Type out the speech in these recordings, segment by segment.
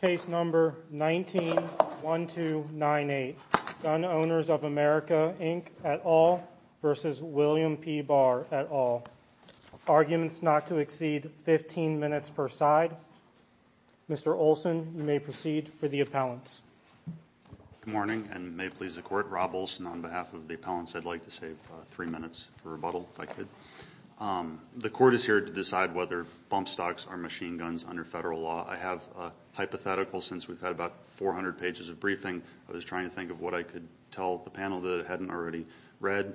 Case number 19-1298. Gun Owners of America Inc at all versus William P Barr at all. Arguments not to exceed 15 minutes per side. Mr. Olson, you may proceed for the appellants. Good morning and may it please the court. Rob Olson on behalf of the appellants. I'd like to save three minutes for rebuttal if I could. The court is here to decide whether bump stocks are machine guns under federal law. I have a hypothetical since we've had about 400 pages of briefing. I was trying to think of what I could tell the panel that hadn't already read.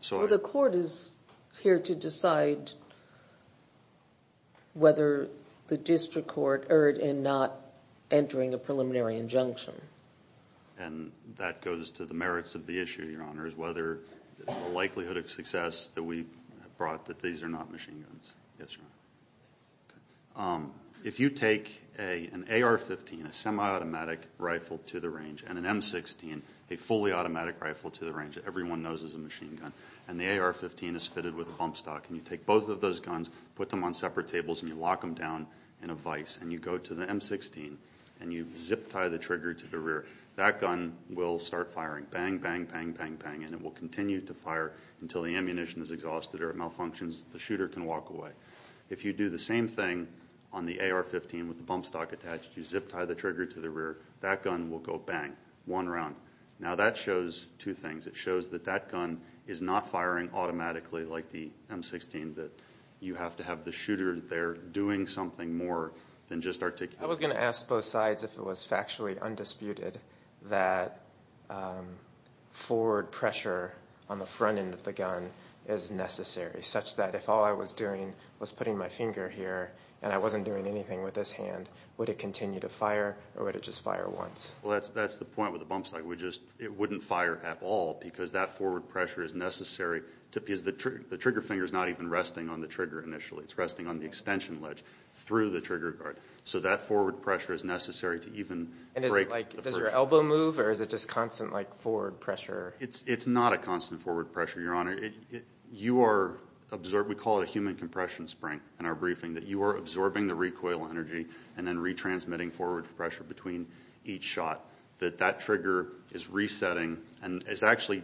So the court is here to decide whether the district court erred in not entering a preliminary injunction. And that goes to the merits of the issue your honor is whether the likelihood of success that we brought that these are not machine guns. If you take an AR-15 a semi-automatic rifle to the range and an M-16 a fully automatic rifle to the range everyone knows is a machine gun and the AR-15 is fitted with a bump stock and you take both of those guns put them on separate tables and you lock them down in a vice and you go to the M-16 and you zip tie the trigger to the rear. That gun will start firing bang bang bang bang bang and it will continue to fire until the ammunition is exhausted or it malfunctions the shooter can walk away. If you do the same thing on the AR-15 with the bump stock attached you zip tie the trigger to the rear that gun will go bang one round. Now that shows two things it shows that that gun is not firing automatically like the M-16 that you have to have the shooter there doing something more than just articulate. I was going to ask both sides if it was factually undisputed that forward pressure on the front end of the gun is necessary such that if all I was doing was putting my finger here and I wasn't doing anything with this hand would it continue to fire or would it just fire once? That's the point with the bump stock it wouldn't fire at all because that forward pressure is necessary because the trigger finger is not even resting on the trigger initially it's resting on the extension ledge through the trigger guard so that forward pressure is necessary to even break the pressure. Does your elbow move or is it just constant like forward pressure? It's it's not a constant forward pressure your honor. We call it a human compression spring in our briefing that you are absorbing the recoil energy and then retransmitting forward pressure between each shot that that trigger is resetting and is actually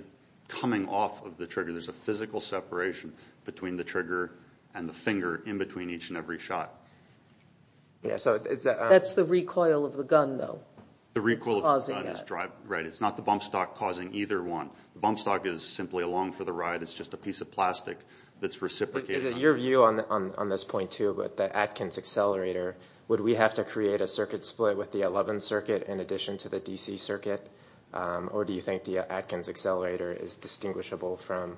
coming off of the trigger there's a physical separation between the trigger and the finger in between each and every shot. That's the recoil of the gun though. The recoil is driving right it's not the bump stock causing either one the bump stock is simply along for the ride it's just a piece of plastic that's reciprocated. Is it your view on this point too with the Atkins accelerator would we have to create a circuit split with the 11 circuit in addition to the DC circuit or do you think the Atkins accelerator is distinguishable from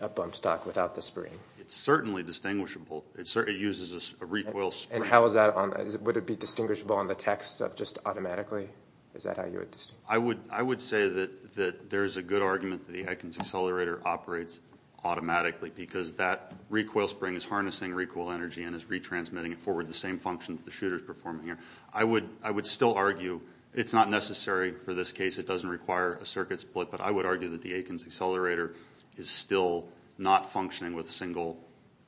a bump stock without the spring? It's And how is that on would it be distinguishable on the text of just automatically is that how you would? I would I would say that that there's a good argument that the Atkins accelerator operates automatically because that recoil spring is harnessing recoil energy and is retransmitting it forward the same function that the shooters performing here. I would I would still argue it's not necessary for this case it doesn't require a circuit split but I would argue that the Atkins accelerator is still not functioning with a single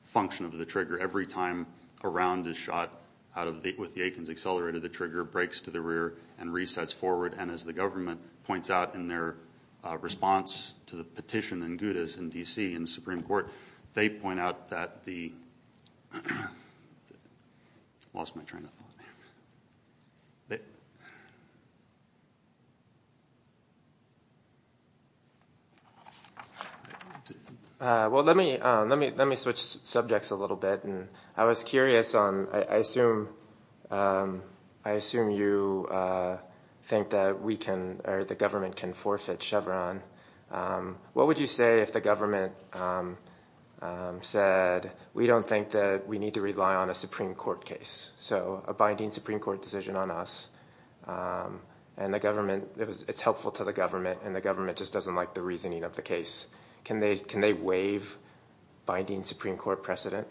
function of the trigger every time a round is shot out of the with the Atkins accelerator the trigger breaks to the rear and resets forward and as the government points out in their response to the petition in Gouda's in DC in subjects a little bit and I was curious on I assume I assume you think that we can or the government can forfeit Chevron what would you say if the government said we don't think that we need to rely on a Supreme Court case so a binding Supreme Court decision on us and the government it's helpful to the government and the government just doesn't like the reasoning of the case can they can they waive binding Supreme Court precedent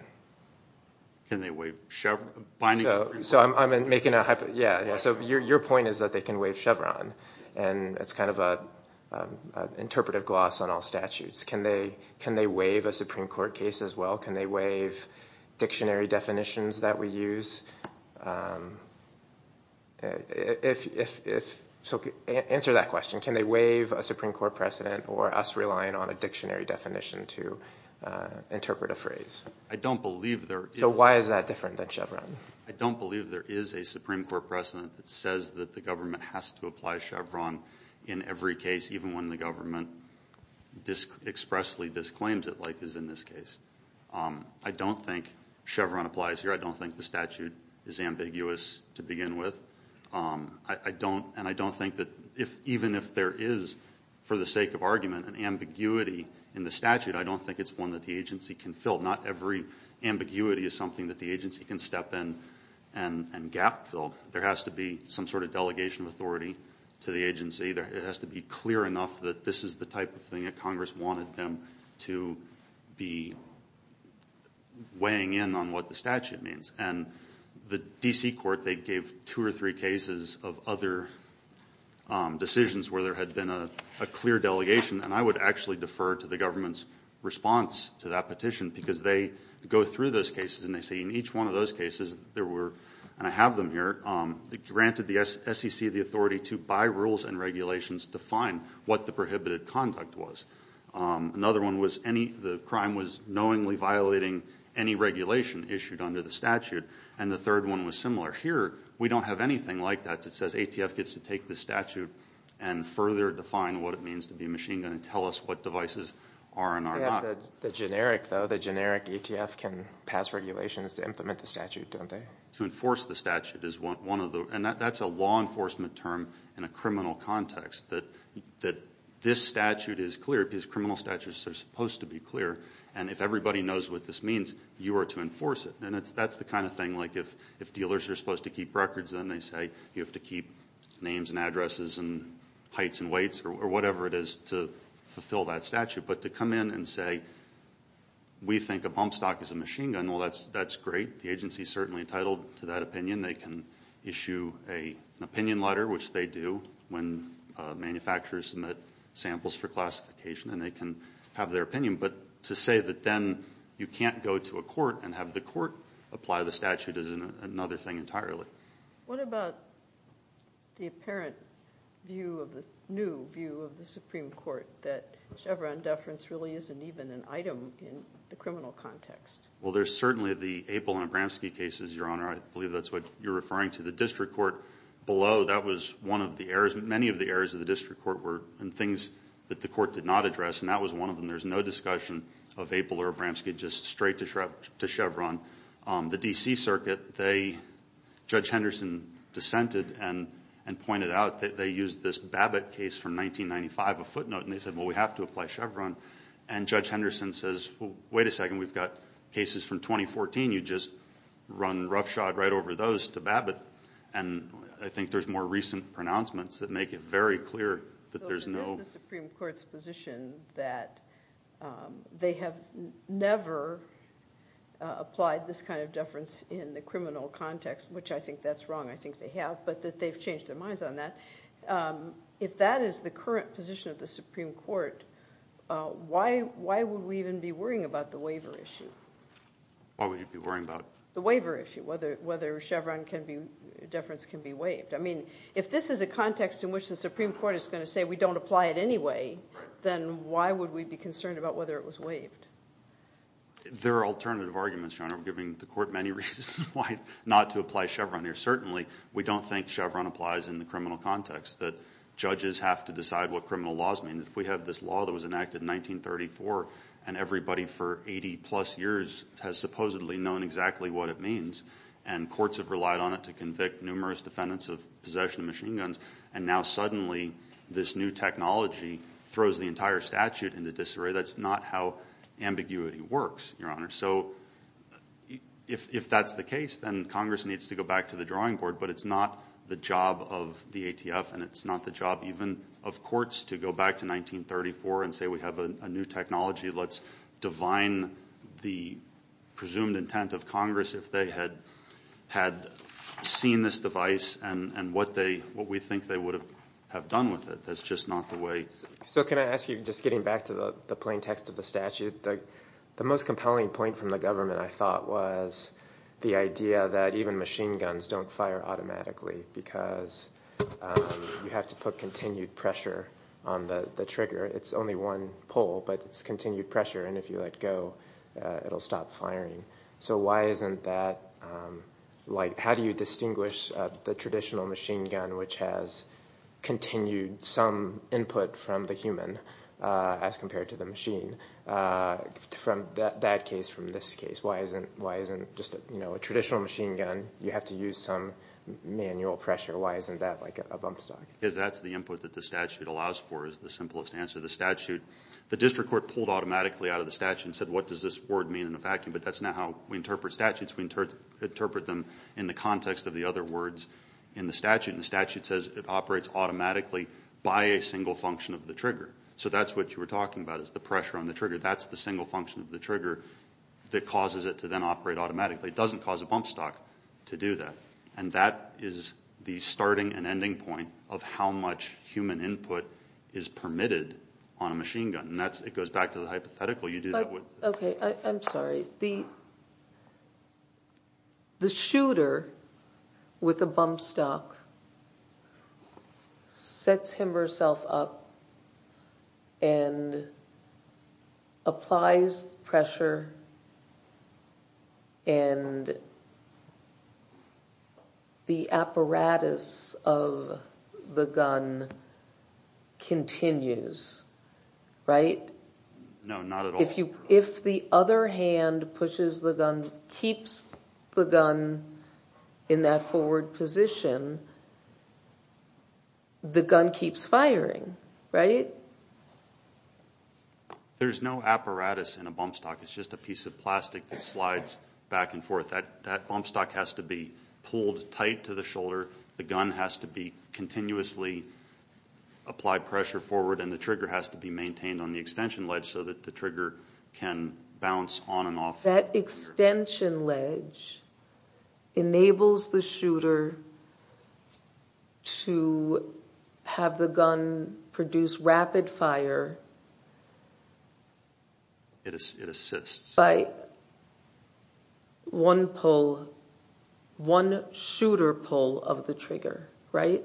can they waive Chevron binding so I'm making a hypo yeah so your point is that they can waive Chevron and it's kind of a interpretive gloss on all statutes can they can they waive a Supreme Court case as well can they waive dictionary definitions that we use if so answer that question can they waive a Supreme Court precedent or us relying on a dictionary definition to interpret a phrase I don't believe there so why is that different than Chevron I don't believe there is a Supreme Court precedent that says that the government has to apply Chevron in every case even when the government disc expressly disclaimed it like is in this case I don't think Chevron applies here I don't think the statute is ambiguous to begin with I don't and I don't think that if even if there is for the sake of argument and ambiguity in the statute I don't think it's one that the agency can fill not every ambiguity is something that the agency can step in and and gap filled there has to be some sort of delegation of authority to the agency there it has to be clear enough that this is the type of thing that Congress wanted them to be weighing in on what the statute means and the DC court they gave two or three cases of other decisions where there had been a clear delegation and I would actually defer to the government's response to that petition because they go through those cases and they see in each one of those cases there were and I have them here granted the SEC the authority to by rules and regulations to find what the prohibited conduct was another one was any the crime was knowingly violating any regulation issued under the statute and the third one was similar here we don't have anything like that it says ATF gets to take the statute and further define what it means to be machine and tell us what devices are not the generic though the generic ATF can pass regulations to implement the statute to enforce the statute is what one of the and that's a law enforcement term in a criminal context that that this statute is clear his criminal statutes are supposed to be clear and if everybody knows what this means you are to enforce it and it's that's the kind of thing like if if dealers are supposed to keep records and they say you have to keep names and addresses and heights and weights or whatever it is to fulfill that statute but to come in and say we think a bump stock is a machine gun well that's that's great the agency certainly entitled to that opinion they can issue a opinion letter which they do when manufacturers submit samples for classification and they can have their opinion but to say that then you can't go to a court and have the court apply the statute is another thing entirely what about the apparent view of the new view of the Supreme Court that Chevron deference really isn't even an item in the criminal context well there's certainly the April and Bramski cases your honor I believe that's what you're referring to the district court below that was one of the errors many of the errors of the district court were and things that the court did not address and that was one of them there's no discussion of April or Bramski just straight to Chevron the DC circuit they judge Henderson dissented and and pointed out that they use this Babbitt case from 1995 a footnote and they said well we have to apply Chevron and judge Henderson says wait a second we've got cases from 2014 you just run roughshod right over those to Babbitt and I think there's more recent pronouncements that make it very clear that there's no Supreme Court's position that they have never applied this kind of deference in the criminal context which I think that's wrong I think they have but that they've changed their minds on that if that is the current position of the Supreme Court why why would we even be worrying about the waiver issue what would you be worrying about the waiver issue whether whether Chevron can be deference can be waived I mean if this is a context in which the Supreme Court is going to say we don't apply it anyway then why would we be concerned about whether it was waived there are alternative arguments John I'm giving the court many reasons why not to apply Chevron here certainly we don't think Chevron applies in the criminal context that judges have to decide what criminal laws mean if we have this law that was enacted in 1934 and everybody for 80 plus years has supposedly known exactly what it means and courts have relied on it to convict numerous defendants of possession of machine guns and now suddenly this new technology throws the entire statute into disarray that's not how ambiguity works your honor so if that's the case then Congress needs to go back to the drawing board but it's not the job of the ATF and it's not the job even of courts to go back to 1934 and say we have a new technology let's divine the presumed intent of Congress if they had had seen this device and what they what we think they would have have done with it that's just not the way so can I ask you just getting back to the plaintext of the statute like the most compelling point from the government I thought was the idea that even machine guns don't fire automatically because you have to put continued pressure on the trigger it's only one pole but it's continued pressure and if you let go it'll stop firing so why isn't that like how do you machine gun which has continued some input from the human as compared to the machine from that case from this case why isn't why isn't just you know a traditional machine gun you have to use some manual pressure why isn't that like a bump stock because that's the input that the statute allows for is the simplest answer the statute the district court pulled automatically out of the statute and said what does this word mean in a vacuum but that's not how we interpret statutes we interpret interpret them in the context of the other words in the statute the statute says it operates automatically by a single function of the trigger so that's what you were talking about is the pressure on the trigger that's the single function of the trigger that causes it to then operate automatically it doesn't cause a bump stock to do that and that is the starting and ending point of how much human input is permitted on a machine gun and that's it goes back to the hypothetical you do with a bump stock sets him herself up and applies pressure and the apparatus of the gun continues right no not if you if the other hand pushes the gun keeps the gun in that forward position the gun keeps firing right there's no apparatus in a bump stock it's just a piece of plastic that slides back and forth that that bump stock has to be pulled tight to the shoulder the gun has to be continuously applied pressure forward and the trigger has to be maintained on the extension ledge so that the trigger can bounce on and off that extension ledge enables the shooter to have the gun produce rapid fire it is it assists by one pull one shooter pull of the trigger right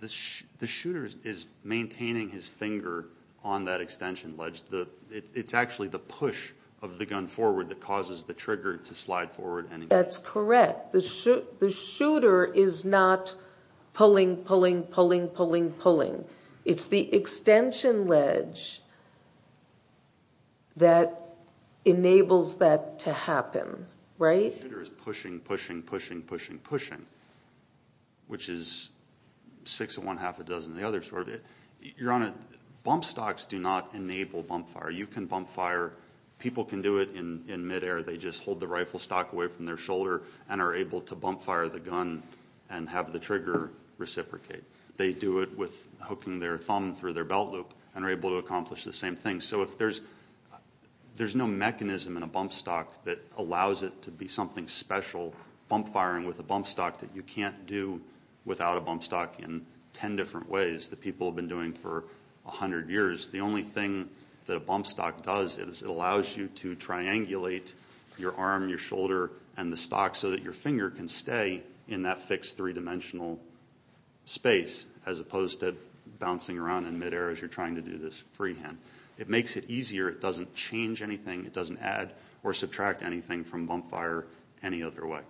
this the shooters is maintaining his finger on that extension ledge the it's gun forward that causes the trigger to slide forward and that's correct the shoot the shooter is not pulling pulling pulling pulling pulling it's the extension ledge that enables that to happen right there is pushing pushing pushing pushing pushing which is six and one half a dozen the other sort of it you're on a bump stocks do not enable bump fire you can bump fire people can do it in in midair they just hold the rifle stock away from their shoulder and are able to bump fire the gun and have the trigger reciprocate they do it with hooking their thumb through their belt loop and are able to accomplish the same thing so if there's there's no mechanism in a bump stock that allows it to be something special bump firing with a bump stock that you can't do without a bump stock in ten different ways that people have been doing for a hundred years the only thing that a bump stock does is it allows you to triangulate your arm your shoulder and the stock so that your finger can stay in that fixed three-dimensional space as opposed to bouncing around in midair as you're trying to do this freehand it makes it easier it doesn't change anything it doesn't add or subtract anything from bump fire any other way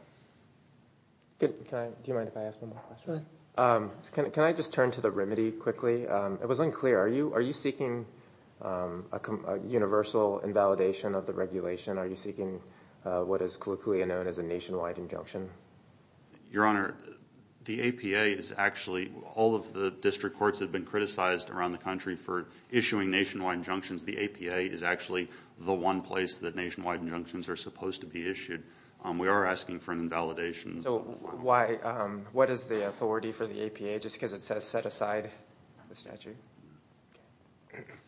can I just turn to the remedy quickly it was unclear are you are you seeking a universal invalidation of the regulation are you seeking what is colloquially known as a nationwide injunction your honor the APA is actually all of the district courts have been criticized around the country for issuing nationwide injunctions the APA is actually the one place that nationwide injunctions are supposed to be issued we are asking for an invalidation so why what is the side the statute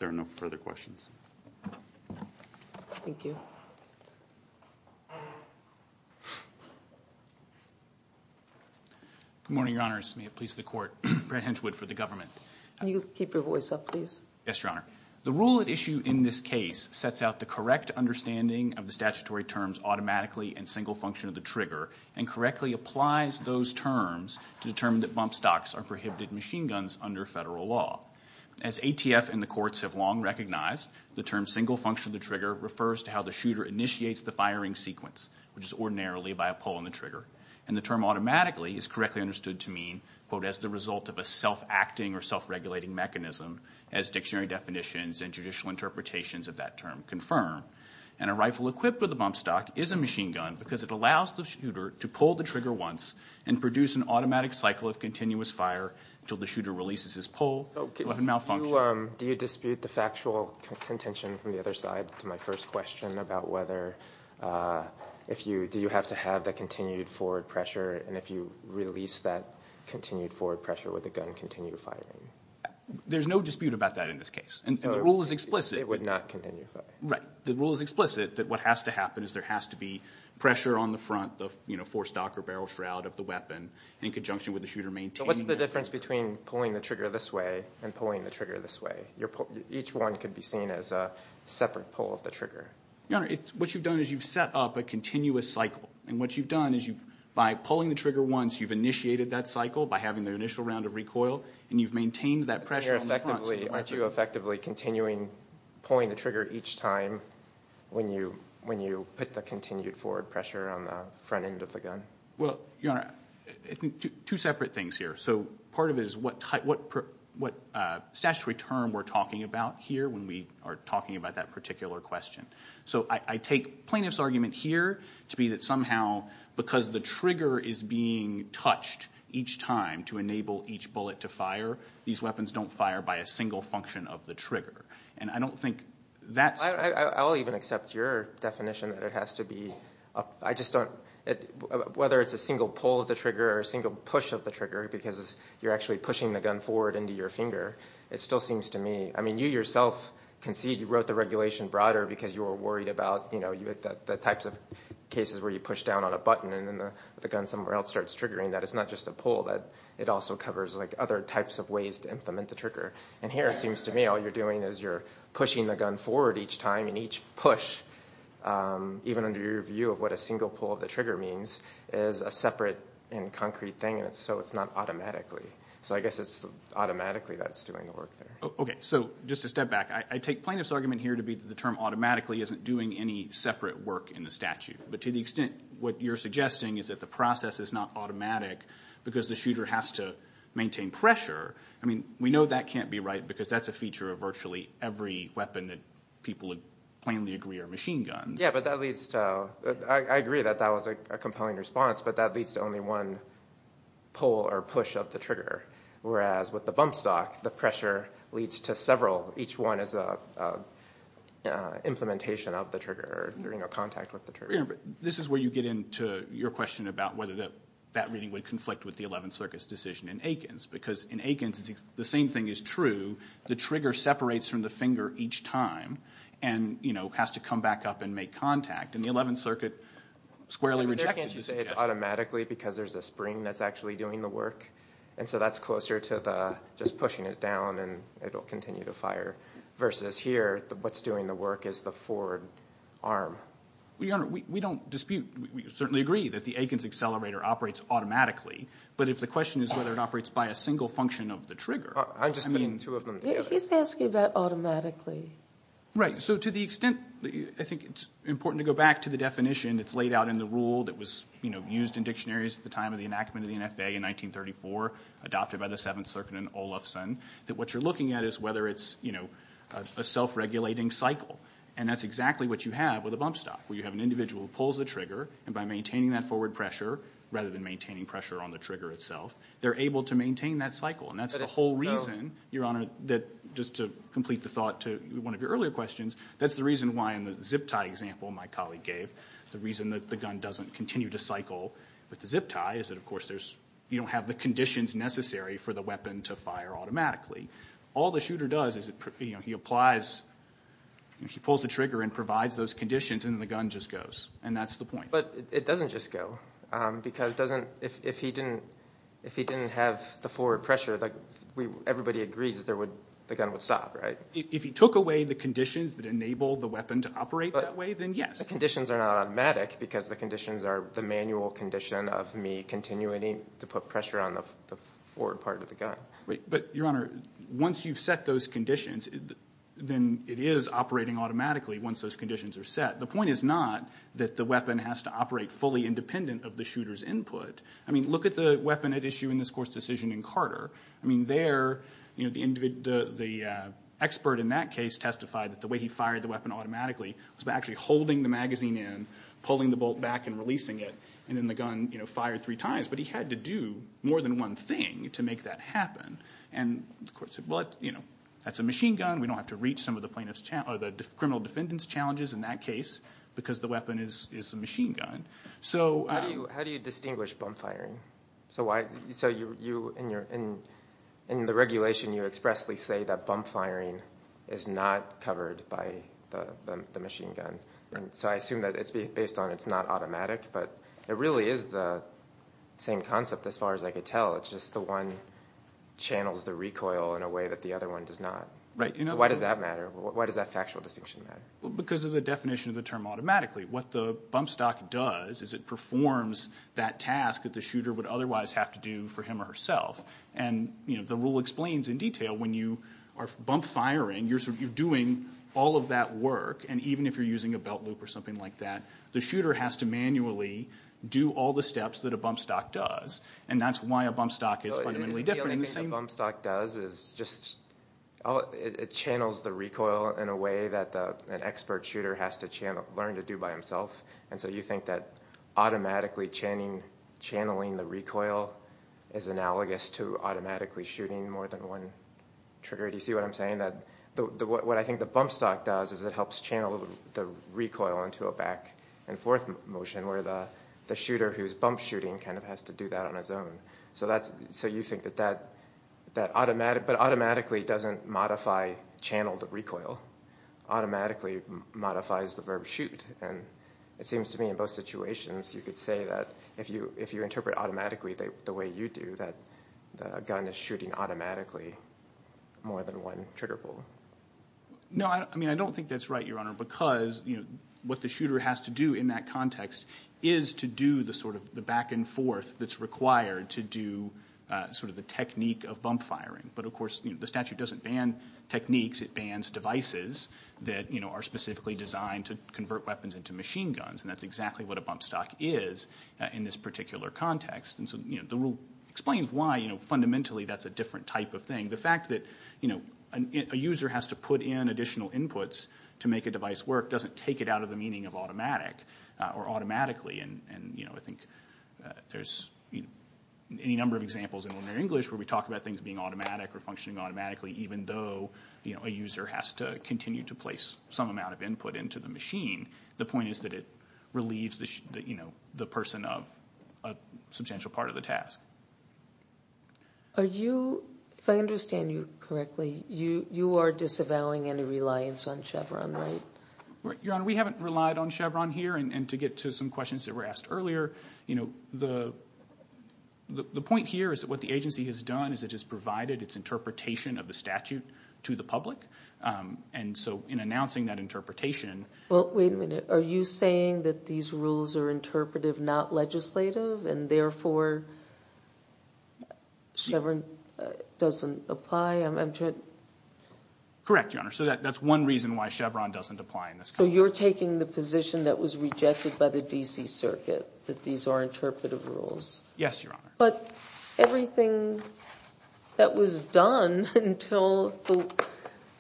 there are no further questions thank you good morning your honors may it please the court Brent Hinchwood for the government you keep your voice up please yes your honor the rule at issue in this case sets out the correct understanding of the statutory terms automatically and single function of the trigger and correctly applies those terms to determine that bump stocks are prohibited machine guns under federal law as ATF and the courts have long recognized the term single function the trigger refers to how the shooter initiates the firing sequence which is ordinarily by a pull on the trigger and the term automatically is correctly understood to mean quote as the result of a self-acting or self-regulating mechanism as dictionary definitions and judicial interpretations of that term confirm and a rifle equipped with a bump stock is a trigger once and produce an automatic cycle of continuous fire until the shooter releases his pole malfunction do you dispute the factual contention from the other side to my first question about whether if you do you have to have that continued forward pressure and if you release that continued forward pressure with a gun continue to firing there's no dispute about that in this case and the rule is explicit it would not continue right the rule is explicit that what has to happen is there has to be pressure on the front of you know for stock or barrel shroud of the weapon in conjunction with the shooter main so what's the difference between pulling the trigger this way and pulling the trigger this way your each one could be seen as a separate pull of the trigger you know it's what you've done is you've set up a continuous cycle and what you've done is you've by pulling the trigger once you've initiated that cycle by having their initial round of recoil and you've maintained that pressure effectively aren't you effectively continuing pulling the trigger each time when you when you put the continued forward pressure on the front end of the gun well you know two separate things here so part of it is what type what what statutory term we're talking about here when we are talking about that particular question so I take plaintiff's argument here to be that somehow because the trigger is being touched each time to enable each bullet to fire these weapons don't fire by a single function of the trigger and I don't think that's I'll even accept your definition that it has to be I just don't whether it's a single pull of the trigger or a single push of the trigger because you're actually pushing the gun forward into your finger it still seems to me I mean you yourself concede you wrote the regulation broader because you were worried about you know you that the types of cases where you push down on a button and then the gun somewhere else starts triggering that it's not just a pull that it also covers like other types of ways to implement the trigger and here it seems to me all you're doing is you're pushing the gun forward each time and each push even under your view of what a single pull of the trigger means is a separate and concrete thing and so it's not automatically so I guess it's automatically that's doing the work there okay so just a step back I take plaintiff's argument here to be the term automatically isn't doing any separate work in the statute but to the extent what you're suggesting is that the process is not automatic because the shooter has to maintain pressure I mean we know that can't be right because that's a feature of virtually every weapon that people would plainly agree or machine gun yeah but at least I agree that that was a compelling response but that leads to only one pull or push of the trigger whereas with the bump stock the pressure leads to several each one is a implementation of the trigger during a contact with the trigger but this is where you get into your question about whether that that reading would conflict with the 11th Circus decision in Aikens because in Aikens it's the same thing is true the trigger separates from the finger each time and you know has to come back up and make contact and the 11th Circuit squarely rejected automatically because there's a spring that's actually doing the work and so that's closer to the just pushing it down and it'll continue to fire versus here what's doing the work is the forward arm we don't dispute we certainly agree that the Aikens accelerator operates automatically but if the automatically right so to the extent I think it's important to go back to the definition that's laid out in the rule that was you know used in dictionaries at the time of the enactment of the NFA in 1934 adopted by the 7th Circuit and Olofson that what you're looking at is whether it's you know a self regulating cycle and that's exactly what you have with a bump stop where you have an individual pulls the trigger and by maintaining that forward pressure rather than maintaining pressure on the trigger itself they're able to maintain that cycle and that's the whole reason your honor that just to complete the thought to one of your earlier questions that's the reason why in the zip tie example my colleague gave the reason that the gun doesn't continue to cycle with the zip tie is that of course there's you don't have the conditions necessary for the weapon to fire automatically all the shooter does is it you know he applies he pulls the trigger and provides those conditions and the gun just goes and that's the point but it doesn't just go because doesn't if he didn't if he everybody agrees that there would the gun would stop right if he took away the conditions that enable the weapon to operate that way then yes the conditions are not automatic because the conditions are the manual condition of me continuing to put pressure on the forward part of the gun but your honor once you've set those conditions then it is operating automatically once those conditions are set the point is not that the weapon has to operate fully independent of the shooters input I mean look at the weapon at issue in this decision in Carter I mean there you know the individual the expert in that case testified that the way he fired the weapon automatically was actually holding the magazine in pulling the bolt back and releasing it and then the gun you know fired three times but he had to do more than one thing to make that happen and of course what you know that's a machine gun we don't have to reach some of the plaintiffs channel the criminal defendants challenges in that case because the weapon is a machine gun so how do you distinguish bump-firing so why so you you in your in in the regulation you expressly say that bump-firing is not covered by the machine gun and so I assume that it's based on it's not automatic but it really is the same concept as far as I could tell it's just the one channels the recoil in a way that the other one does not right you know why does that matter why does that factual distinction matter well because of the definition of the term automatically what the bump does is it performs that task that the shooter would otherwise have to do for him or herself and you know the rule explains in detail when you are bump firing you're sort of you're doing all of that work and even if you're using a belt loop or something like that the shooter has to manually do all the steps that a bump stock does and that's why a bump stock is fundamentally different bump stock does is just oh it channels the recoil in a way that the expert has to channel learn to do by himself and so you think that automatically channeling the recoil is analogous to automatically shooting more than one trigger do you see what I'm saying that what I think the bump stock does is it helps channel the recoil into a back-and-forth motion where the shooter who's bump shooting kind of has to do that on his own so that's so you think that that that automatic but automatically doesn't modify channel the modifies the verb shoot and it seems to me in both situations you could say that if you if you interpret automatically the way you do that a gun is shooting automatically more than one trigger pull no I mean I don't think that's right your honor because you know what the shooter has to do in that context is to do the sort of the back-and-forth that's required to do sort of the technique of bump firing but of course the statute doesn't ban techniques it bans devices that you know are specifically designed to convert weapons into machine guns and that's exactly what a bump stock is in this particular context and so you know the rule explains why you know fundamentally that's a different type of thing the fact that you know a user has to put in additional inputs to make a device work doesn't take it out of the meaning of automatic or automatically and and you know I think there's any number of examples in ordinary English where we talk about things being automatic or functioning automatically even though you the user has to continue to place some amount of input into the machine the point is that it relieves the you know the person of a substantial part of the task are you if I understand you correctly you you are disavowing any reliance on Chevron right your honor we haven't relied on Chevron here and to get to some questions that were asked earlier you know the the point here is that what the agency has done is it has provided its interpretation of the public and so in announcing that interpretation well wait a minute are you saying that these rules are interpretive not legislative and therefore Chevron doesn't apply I'm entered correct your honor so that that's one reason why Chevron doesn't apply in this so you're taking the position that was rejected by the DC Circuit that these are interpretive rules yes your honor but everything that was done until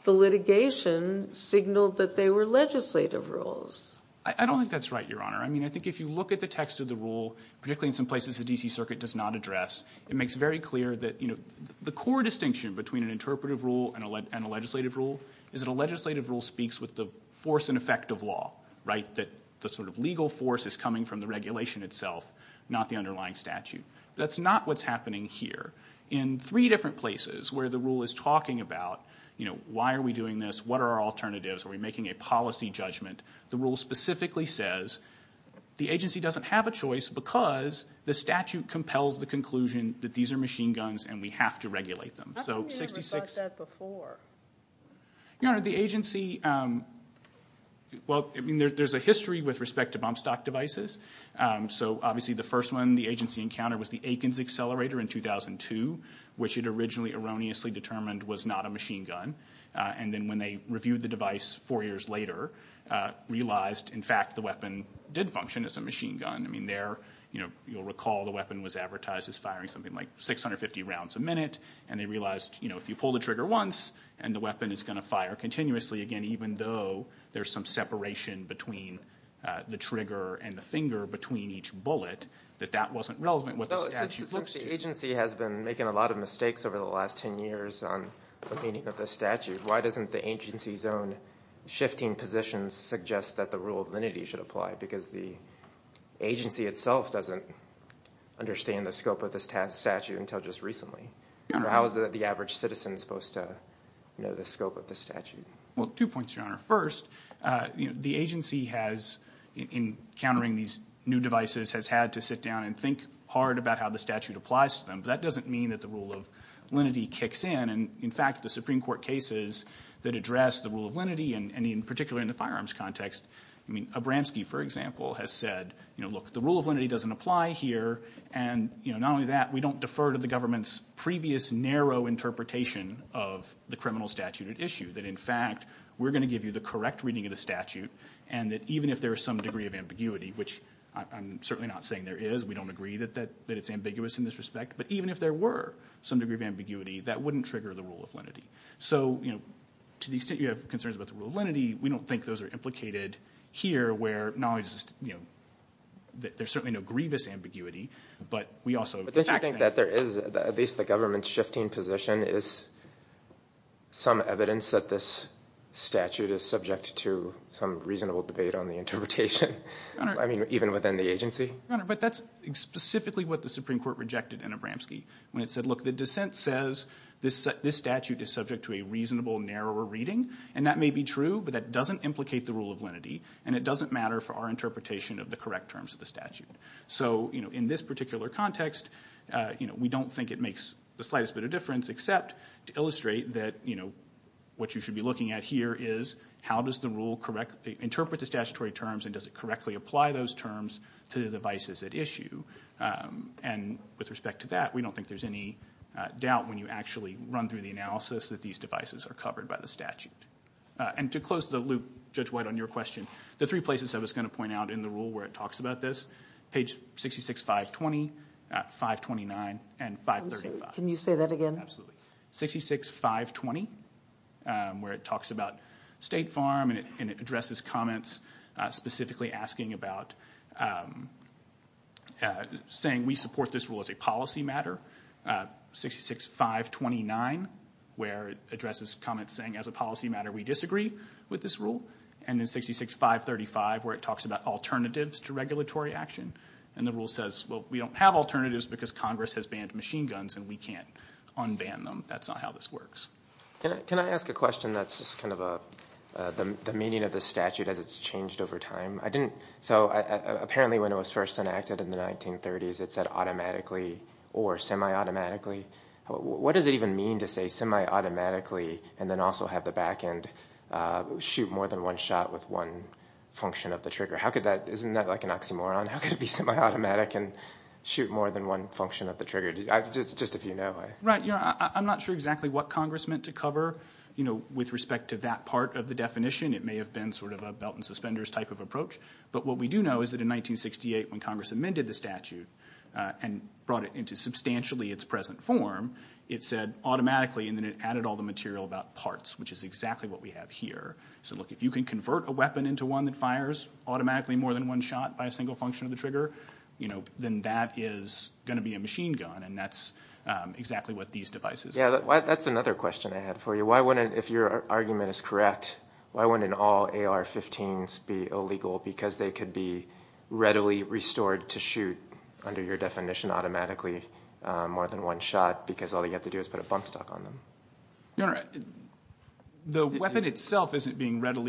the litigation signaled that they were legislative rules I don't think that's right your honor I mean I think if you look at the text of the rule particularly in some places the DC Circuit does not address it makes very clear that you know the core distinction between an interpretive rule and a legislative rule is that a legislative rule speaks with the force and effect of law right that the sort of underlying statute that's not what's happening here in three different places where the rule is talking about you know why are we doing this what are our alternatives are we making a policy judgment the rule specifically says the agency doesn't have a choice because the statute compels the conclusion that these are machine guns and we have to regulate them so 66 before your honor the agency well I mean there's a history with respect to bump stock devices so obviously the first one the agency encounter was the Aikens accelerator in 2002 which it originally erroneously determined was not a machine gun and then when they reviewed the device four years later realized in fact the weapon did function as a machine gun I mean there you know you'll recall the weapon was advertised as firing something like 650 rounds a minute and they realized you know if you pull the trigger once and the weapon is going to fire continuously again even though there's some separation between the trigger and the finger between each bullet that that wasn't relevant agency has been making a lot of mistakes over the last 10 years on the meaning of the statute why doesn't the agency's own shifting positions suggest that the rule of lenity should apply because the agency itself doesn't understand the scope of this task statute until just recently how is it that the average citizen supposed to know the scope of the statute well two points your honor first the agency has in countering these new devices has had to sit down and think hard about how the statute applies to them but that doesn't mean that the rule of lenity kicks in and in fact the Supreme Court cases that address the rule of lenity and in particular in the firearms context I mean Abramski for example has said you know look the rule of lenity doesn't apply here and you know not only that we don't defer to the government's previous narrow interpretation of the criminal statute issue that in fact we're going to give you the correct reading of the statute and that even if there are some degree of ambiguity which I'm certainly not saying there is we don't agree that that that it's ambiguous in this respect but even if there were some degree of ambiguity that wouldn't trigger the rule of lenity so you know to the extent you have concerns about the rule of lenity we don't think those are implicated here where knowledge is you know there's certainly no grievous ambiguity but we also think that there is at least the government's shifting position is some evidence that this statute is subject to some reasonable debate on the interpretation I mean even within the agency but that's specifically what the Supreme Court rejected in Abramski when it said look the dissent says this this statute is subject to a reasonable narrower reading and that may be true but that doesn't implicate the rule of lenity and it doesn't matter for our interpretation of the correct terms of the statute so you know in this particular context you know we don't think it makes the slightest bit of what you should be looking at here is how does the rule correct interpret the statutory terms and does it correctly apply those terms to the devices at issue and with respect to that we don't think there's any doubt when you actually run through the analysis that these devices are covered by the statute and to close the loop judge white on your question the three places I was going to point out in the rule where it talks about this page 66 520 529 and 5 can you say that again absolutely 66 520 where it talks about State Farm and it addresses comments specifically asking about saying we support this rule as a policy matter 66 529 where it addresses comments saying as a policy matter we disagree with this rule and then 66 535 where it talks about alternatives to regulatory action and the rule says well we don't have alternatives because Congress has been machine guns and we can't unban them that's not how this works can I ask a question that's just kind of a the meaning of the statute as it's changed over time I didn't so apparently when it was first enacted in the 1930s it said automatically or semi-automatically what does it even mean to say semi-automatically and then also have the back end shoot more than one shot with one function of the trigger how could that isn't that like an oxymoron how could it be semi-automatic and shoot more than one function of the trigger just if you know right yeah I'm not sure exactly what Congress meant to cover you know with respect to that part of the definition it may have been sort of a belt and suspenders type of approach but what we do know is that in 1968 when Congress amended the statute and brought it into substantially its present form it said automatically and then it added all the material about parts which is exactly what we have here so look if you can convert a weapon into one that fires automatically more than one shot by a single function of the trigger you know then that is going to be a machine gun and that's exactly what these devices yeah that's another question I had for you why wouldn't if your argument is correct why wouldn't all AR 15s be illegal because they could be readily restored to shoot under your definition automatically more than one shot because all you have to do is put a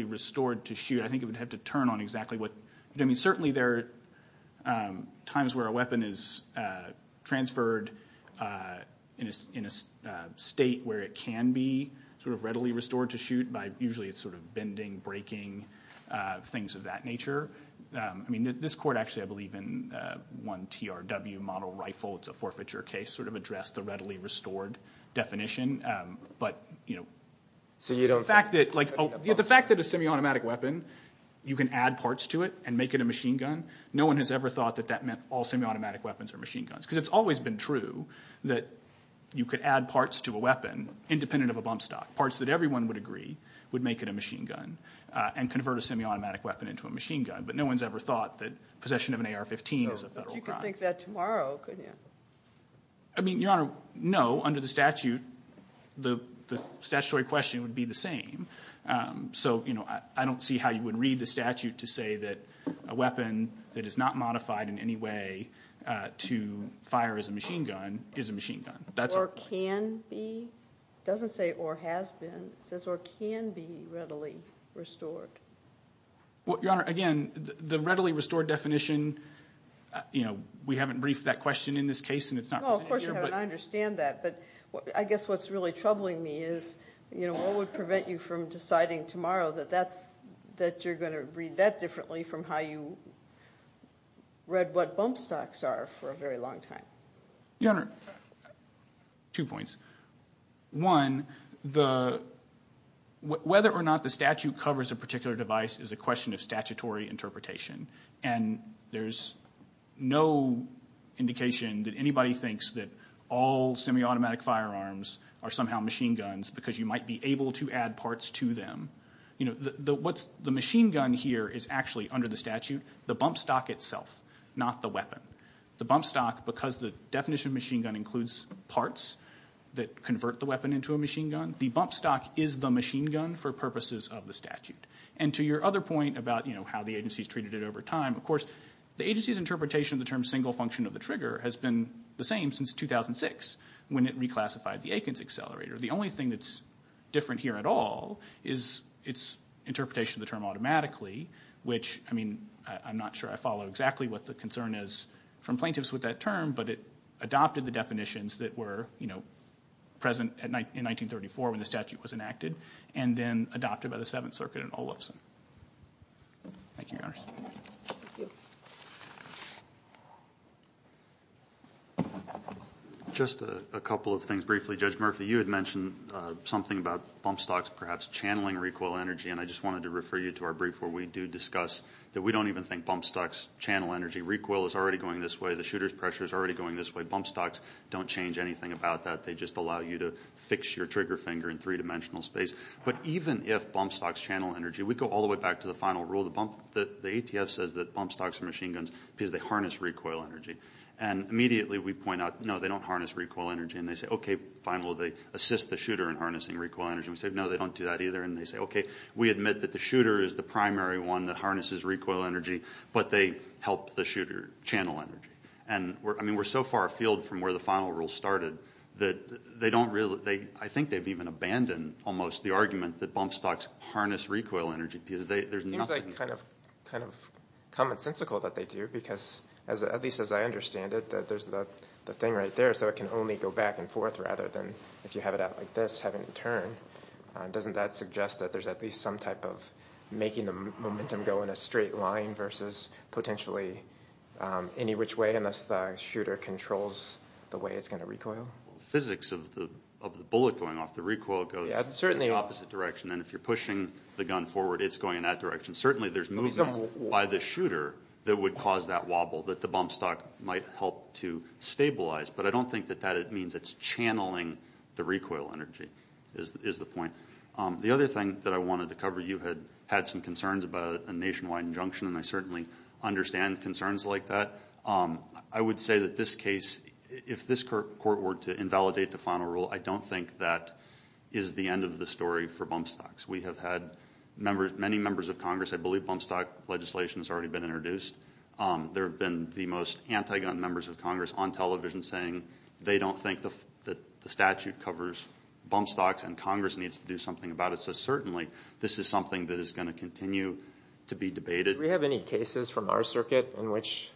restored to shoot I think it would have to turn on exactly what I mean certainly there times where a weapon is transferred in a state where it can be sort of readily restored to shoot by usually it's sort of bending breaking things of that nature I mean this court actually I believe in one TRW model rifle it's a forfeiture case sort of address the readily restored definition but you know so you don't fact that like the fact that a semi-automatic weapon you can add parts to it and make it a machine gun no one has ever thought that that meant all semi-automatic weapons are machine guns because it's always been true that you could add parts to a weapon independent of a bump stock parts that everyone would agree would make it a machine gun and convert a semi-automatic weapon into a machine gun but no one's ever thought that possession of an AR 15 is a federal crime I mean your honor no under the statute the statutory question would be the same so you know I don't see how you would read the statute to say that a weapon that is not modified in any way to fire as a machine gun is a machine gun that's can be doesn't say or has been says or can be readily restored what your honor again the readily restored definition you know we haven't briefed that question in this case and I understand that but I guess what's really troubling me is you know what would prevent you from deciding tomorrow that that's that you're going to read that differently from how you read what bump stocks are for a very long time your honor two points one the whether or not the statute covers a particular device is a question of statutory interpretation and there's no indication that anybody thinks that all semi-automatic firearms are somehow machine guns because you might be able to add parts to them you know what's the machine gun here is actually under the statute the bump stock itself not the weapon the bump stock because the definition machine gun includes parts that convert the weapon into a machine gun the bump stock is the machine gun for purposes of the statute and to your other point about you know how the agency's treated it over time of course the agency's interpretation the term single function of the trigger has been the same since 2006 when it reclassified the Aikens accelerator the only thing that's different here at all is its interpretation of the term automatically which I mean I'm not sure I follow exactly what the concern is from plaintiffs with that term but it adopted the definitions that were you know present at night in 1934 when the statute was enacted and then adopted by the Seventh Circuit and all of them just a couple of things briefly judge Murphy you had mentioned something about bump stocks perhaps channeling recoil energy and I just wanted to refer you to our brief where we do discuss that we don't even think bump stocks channel energy recoil is already going this way the shooters pressure is already going this way bump stocks don't change anything about that they just allow you to fix your trigger finger in three-dimensional space but even if bump stocks channel energy we go all the way back to the final rule the bump that the recoil energy and immediately we point out no they don't harness recoil energy and they say okay final they assist the shooter in harnessing recoil energy we said no they don't do that either and they say okay we admit that the shooter is the primary one that harnesses recoil energy but they help the shooter channel energy and we're I mean we're so far afield from where the final rule started that they don't really they I think they've even abandoned almost the argument that bump stocks harness recoil energy because they there's nothing kind of commonsensical that they do because as at least as I understand it that there's the thing right there so it can only go back and forth rather than if you have it out like this having a turn doesn't that suggest that there's at least some type of making the momentum go in a straight line versus potentially any which way unless the shooter controls the way it's going to recoil physics of the of the bullet going off the recoil goes certainly opposite direction and if you're pushing the gun forward it's going in that direction certainly there's no by the shooter that would cause that wobble that the bump stock might help to stabilize but I don't think that that it means it's channeling the recoil energy is the point the other thing that I wanted to cover you had had some concerns about a nationwide injunction and I certainly understand concerns like that I would say that this case if this court were to invalidate the final rule I don't think that is the end of the story for bump stocks we have had members many members of Congress I believe on stock legislation has already been introduced there have been the most anti-gun members of Congress on television saying they don't think the statute covers bump stocks and Congress needs to do something about it so certainly this is something that is going to continue to be debated we have any cases from our circuit in which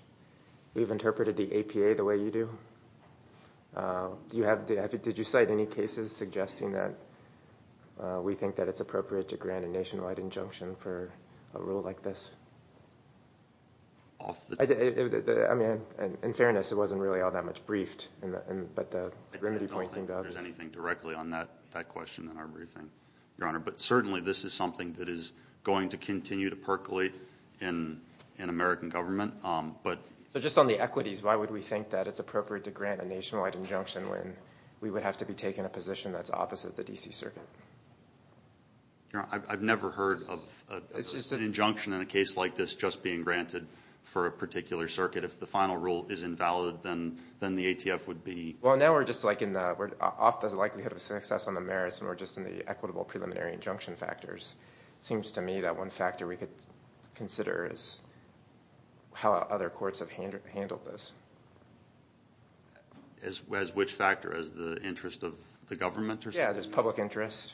we've interpreted the APA the way you do you have did you cite any cases suggesting that we think that it's appropriate to grant a nationwide injunction for a rule like this in fairness it wasn't really all that much briefed but certainly this is something that is going to continue to percolate in an American government but just on the equities why would we think that it's appropriate to grant a nationwide injunction when we would have to be taken a position that's opposite the DC circuit I've never heard of injunction in a case like this just being granted for a particular circuit if the final rule is invalid then then the ATF would be well now we're just like in the word off the likelihood of success on the merits and we're just in the equitable preliminary injunction factors seems to me that one factor we could consider is how other courts have handled this as well as which factor as the interest of the government yeah there's public interest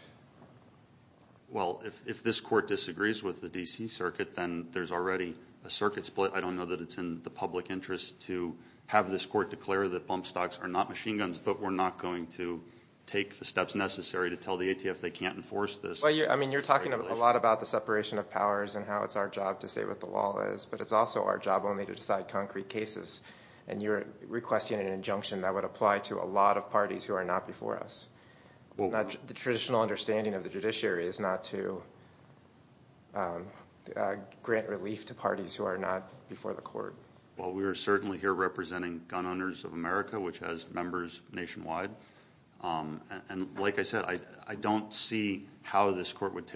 well if this court disagrees with the DC circuit then there's already a circuit split I don't know that it's in the public interest to have this court declare that bump stocks are not machine guns but we're not going to take the steps necessary to tell the ATF they can't enforce this well yeah I mean you're talking a lot about the law and how it's our job to say what the law is but it's also our job only to decide concrete cases and you're requesting an injunction that would apply to a lot of parties who are not before us well the traditional understanding of the judiciary is not to grant relief to parties who are not before the court well we are certainly here representing gun owners of America which has members nationwide and like I said I don't see how this court would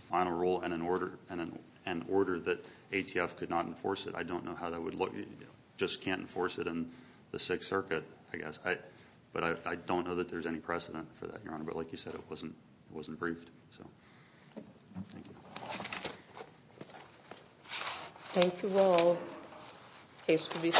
final rule and an order and an order that ATF could not enforce it I don't know how that would look you just can't enforce it and the Sixth Circuit I guess I but I don't know that there's any precedent for that your honor but like you said it wasn't it wasn't briefed so thank you all case to be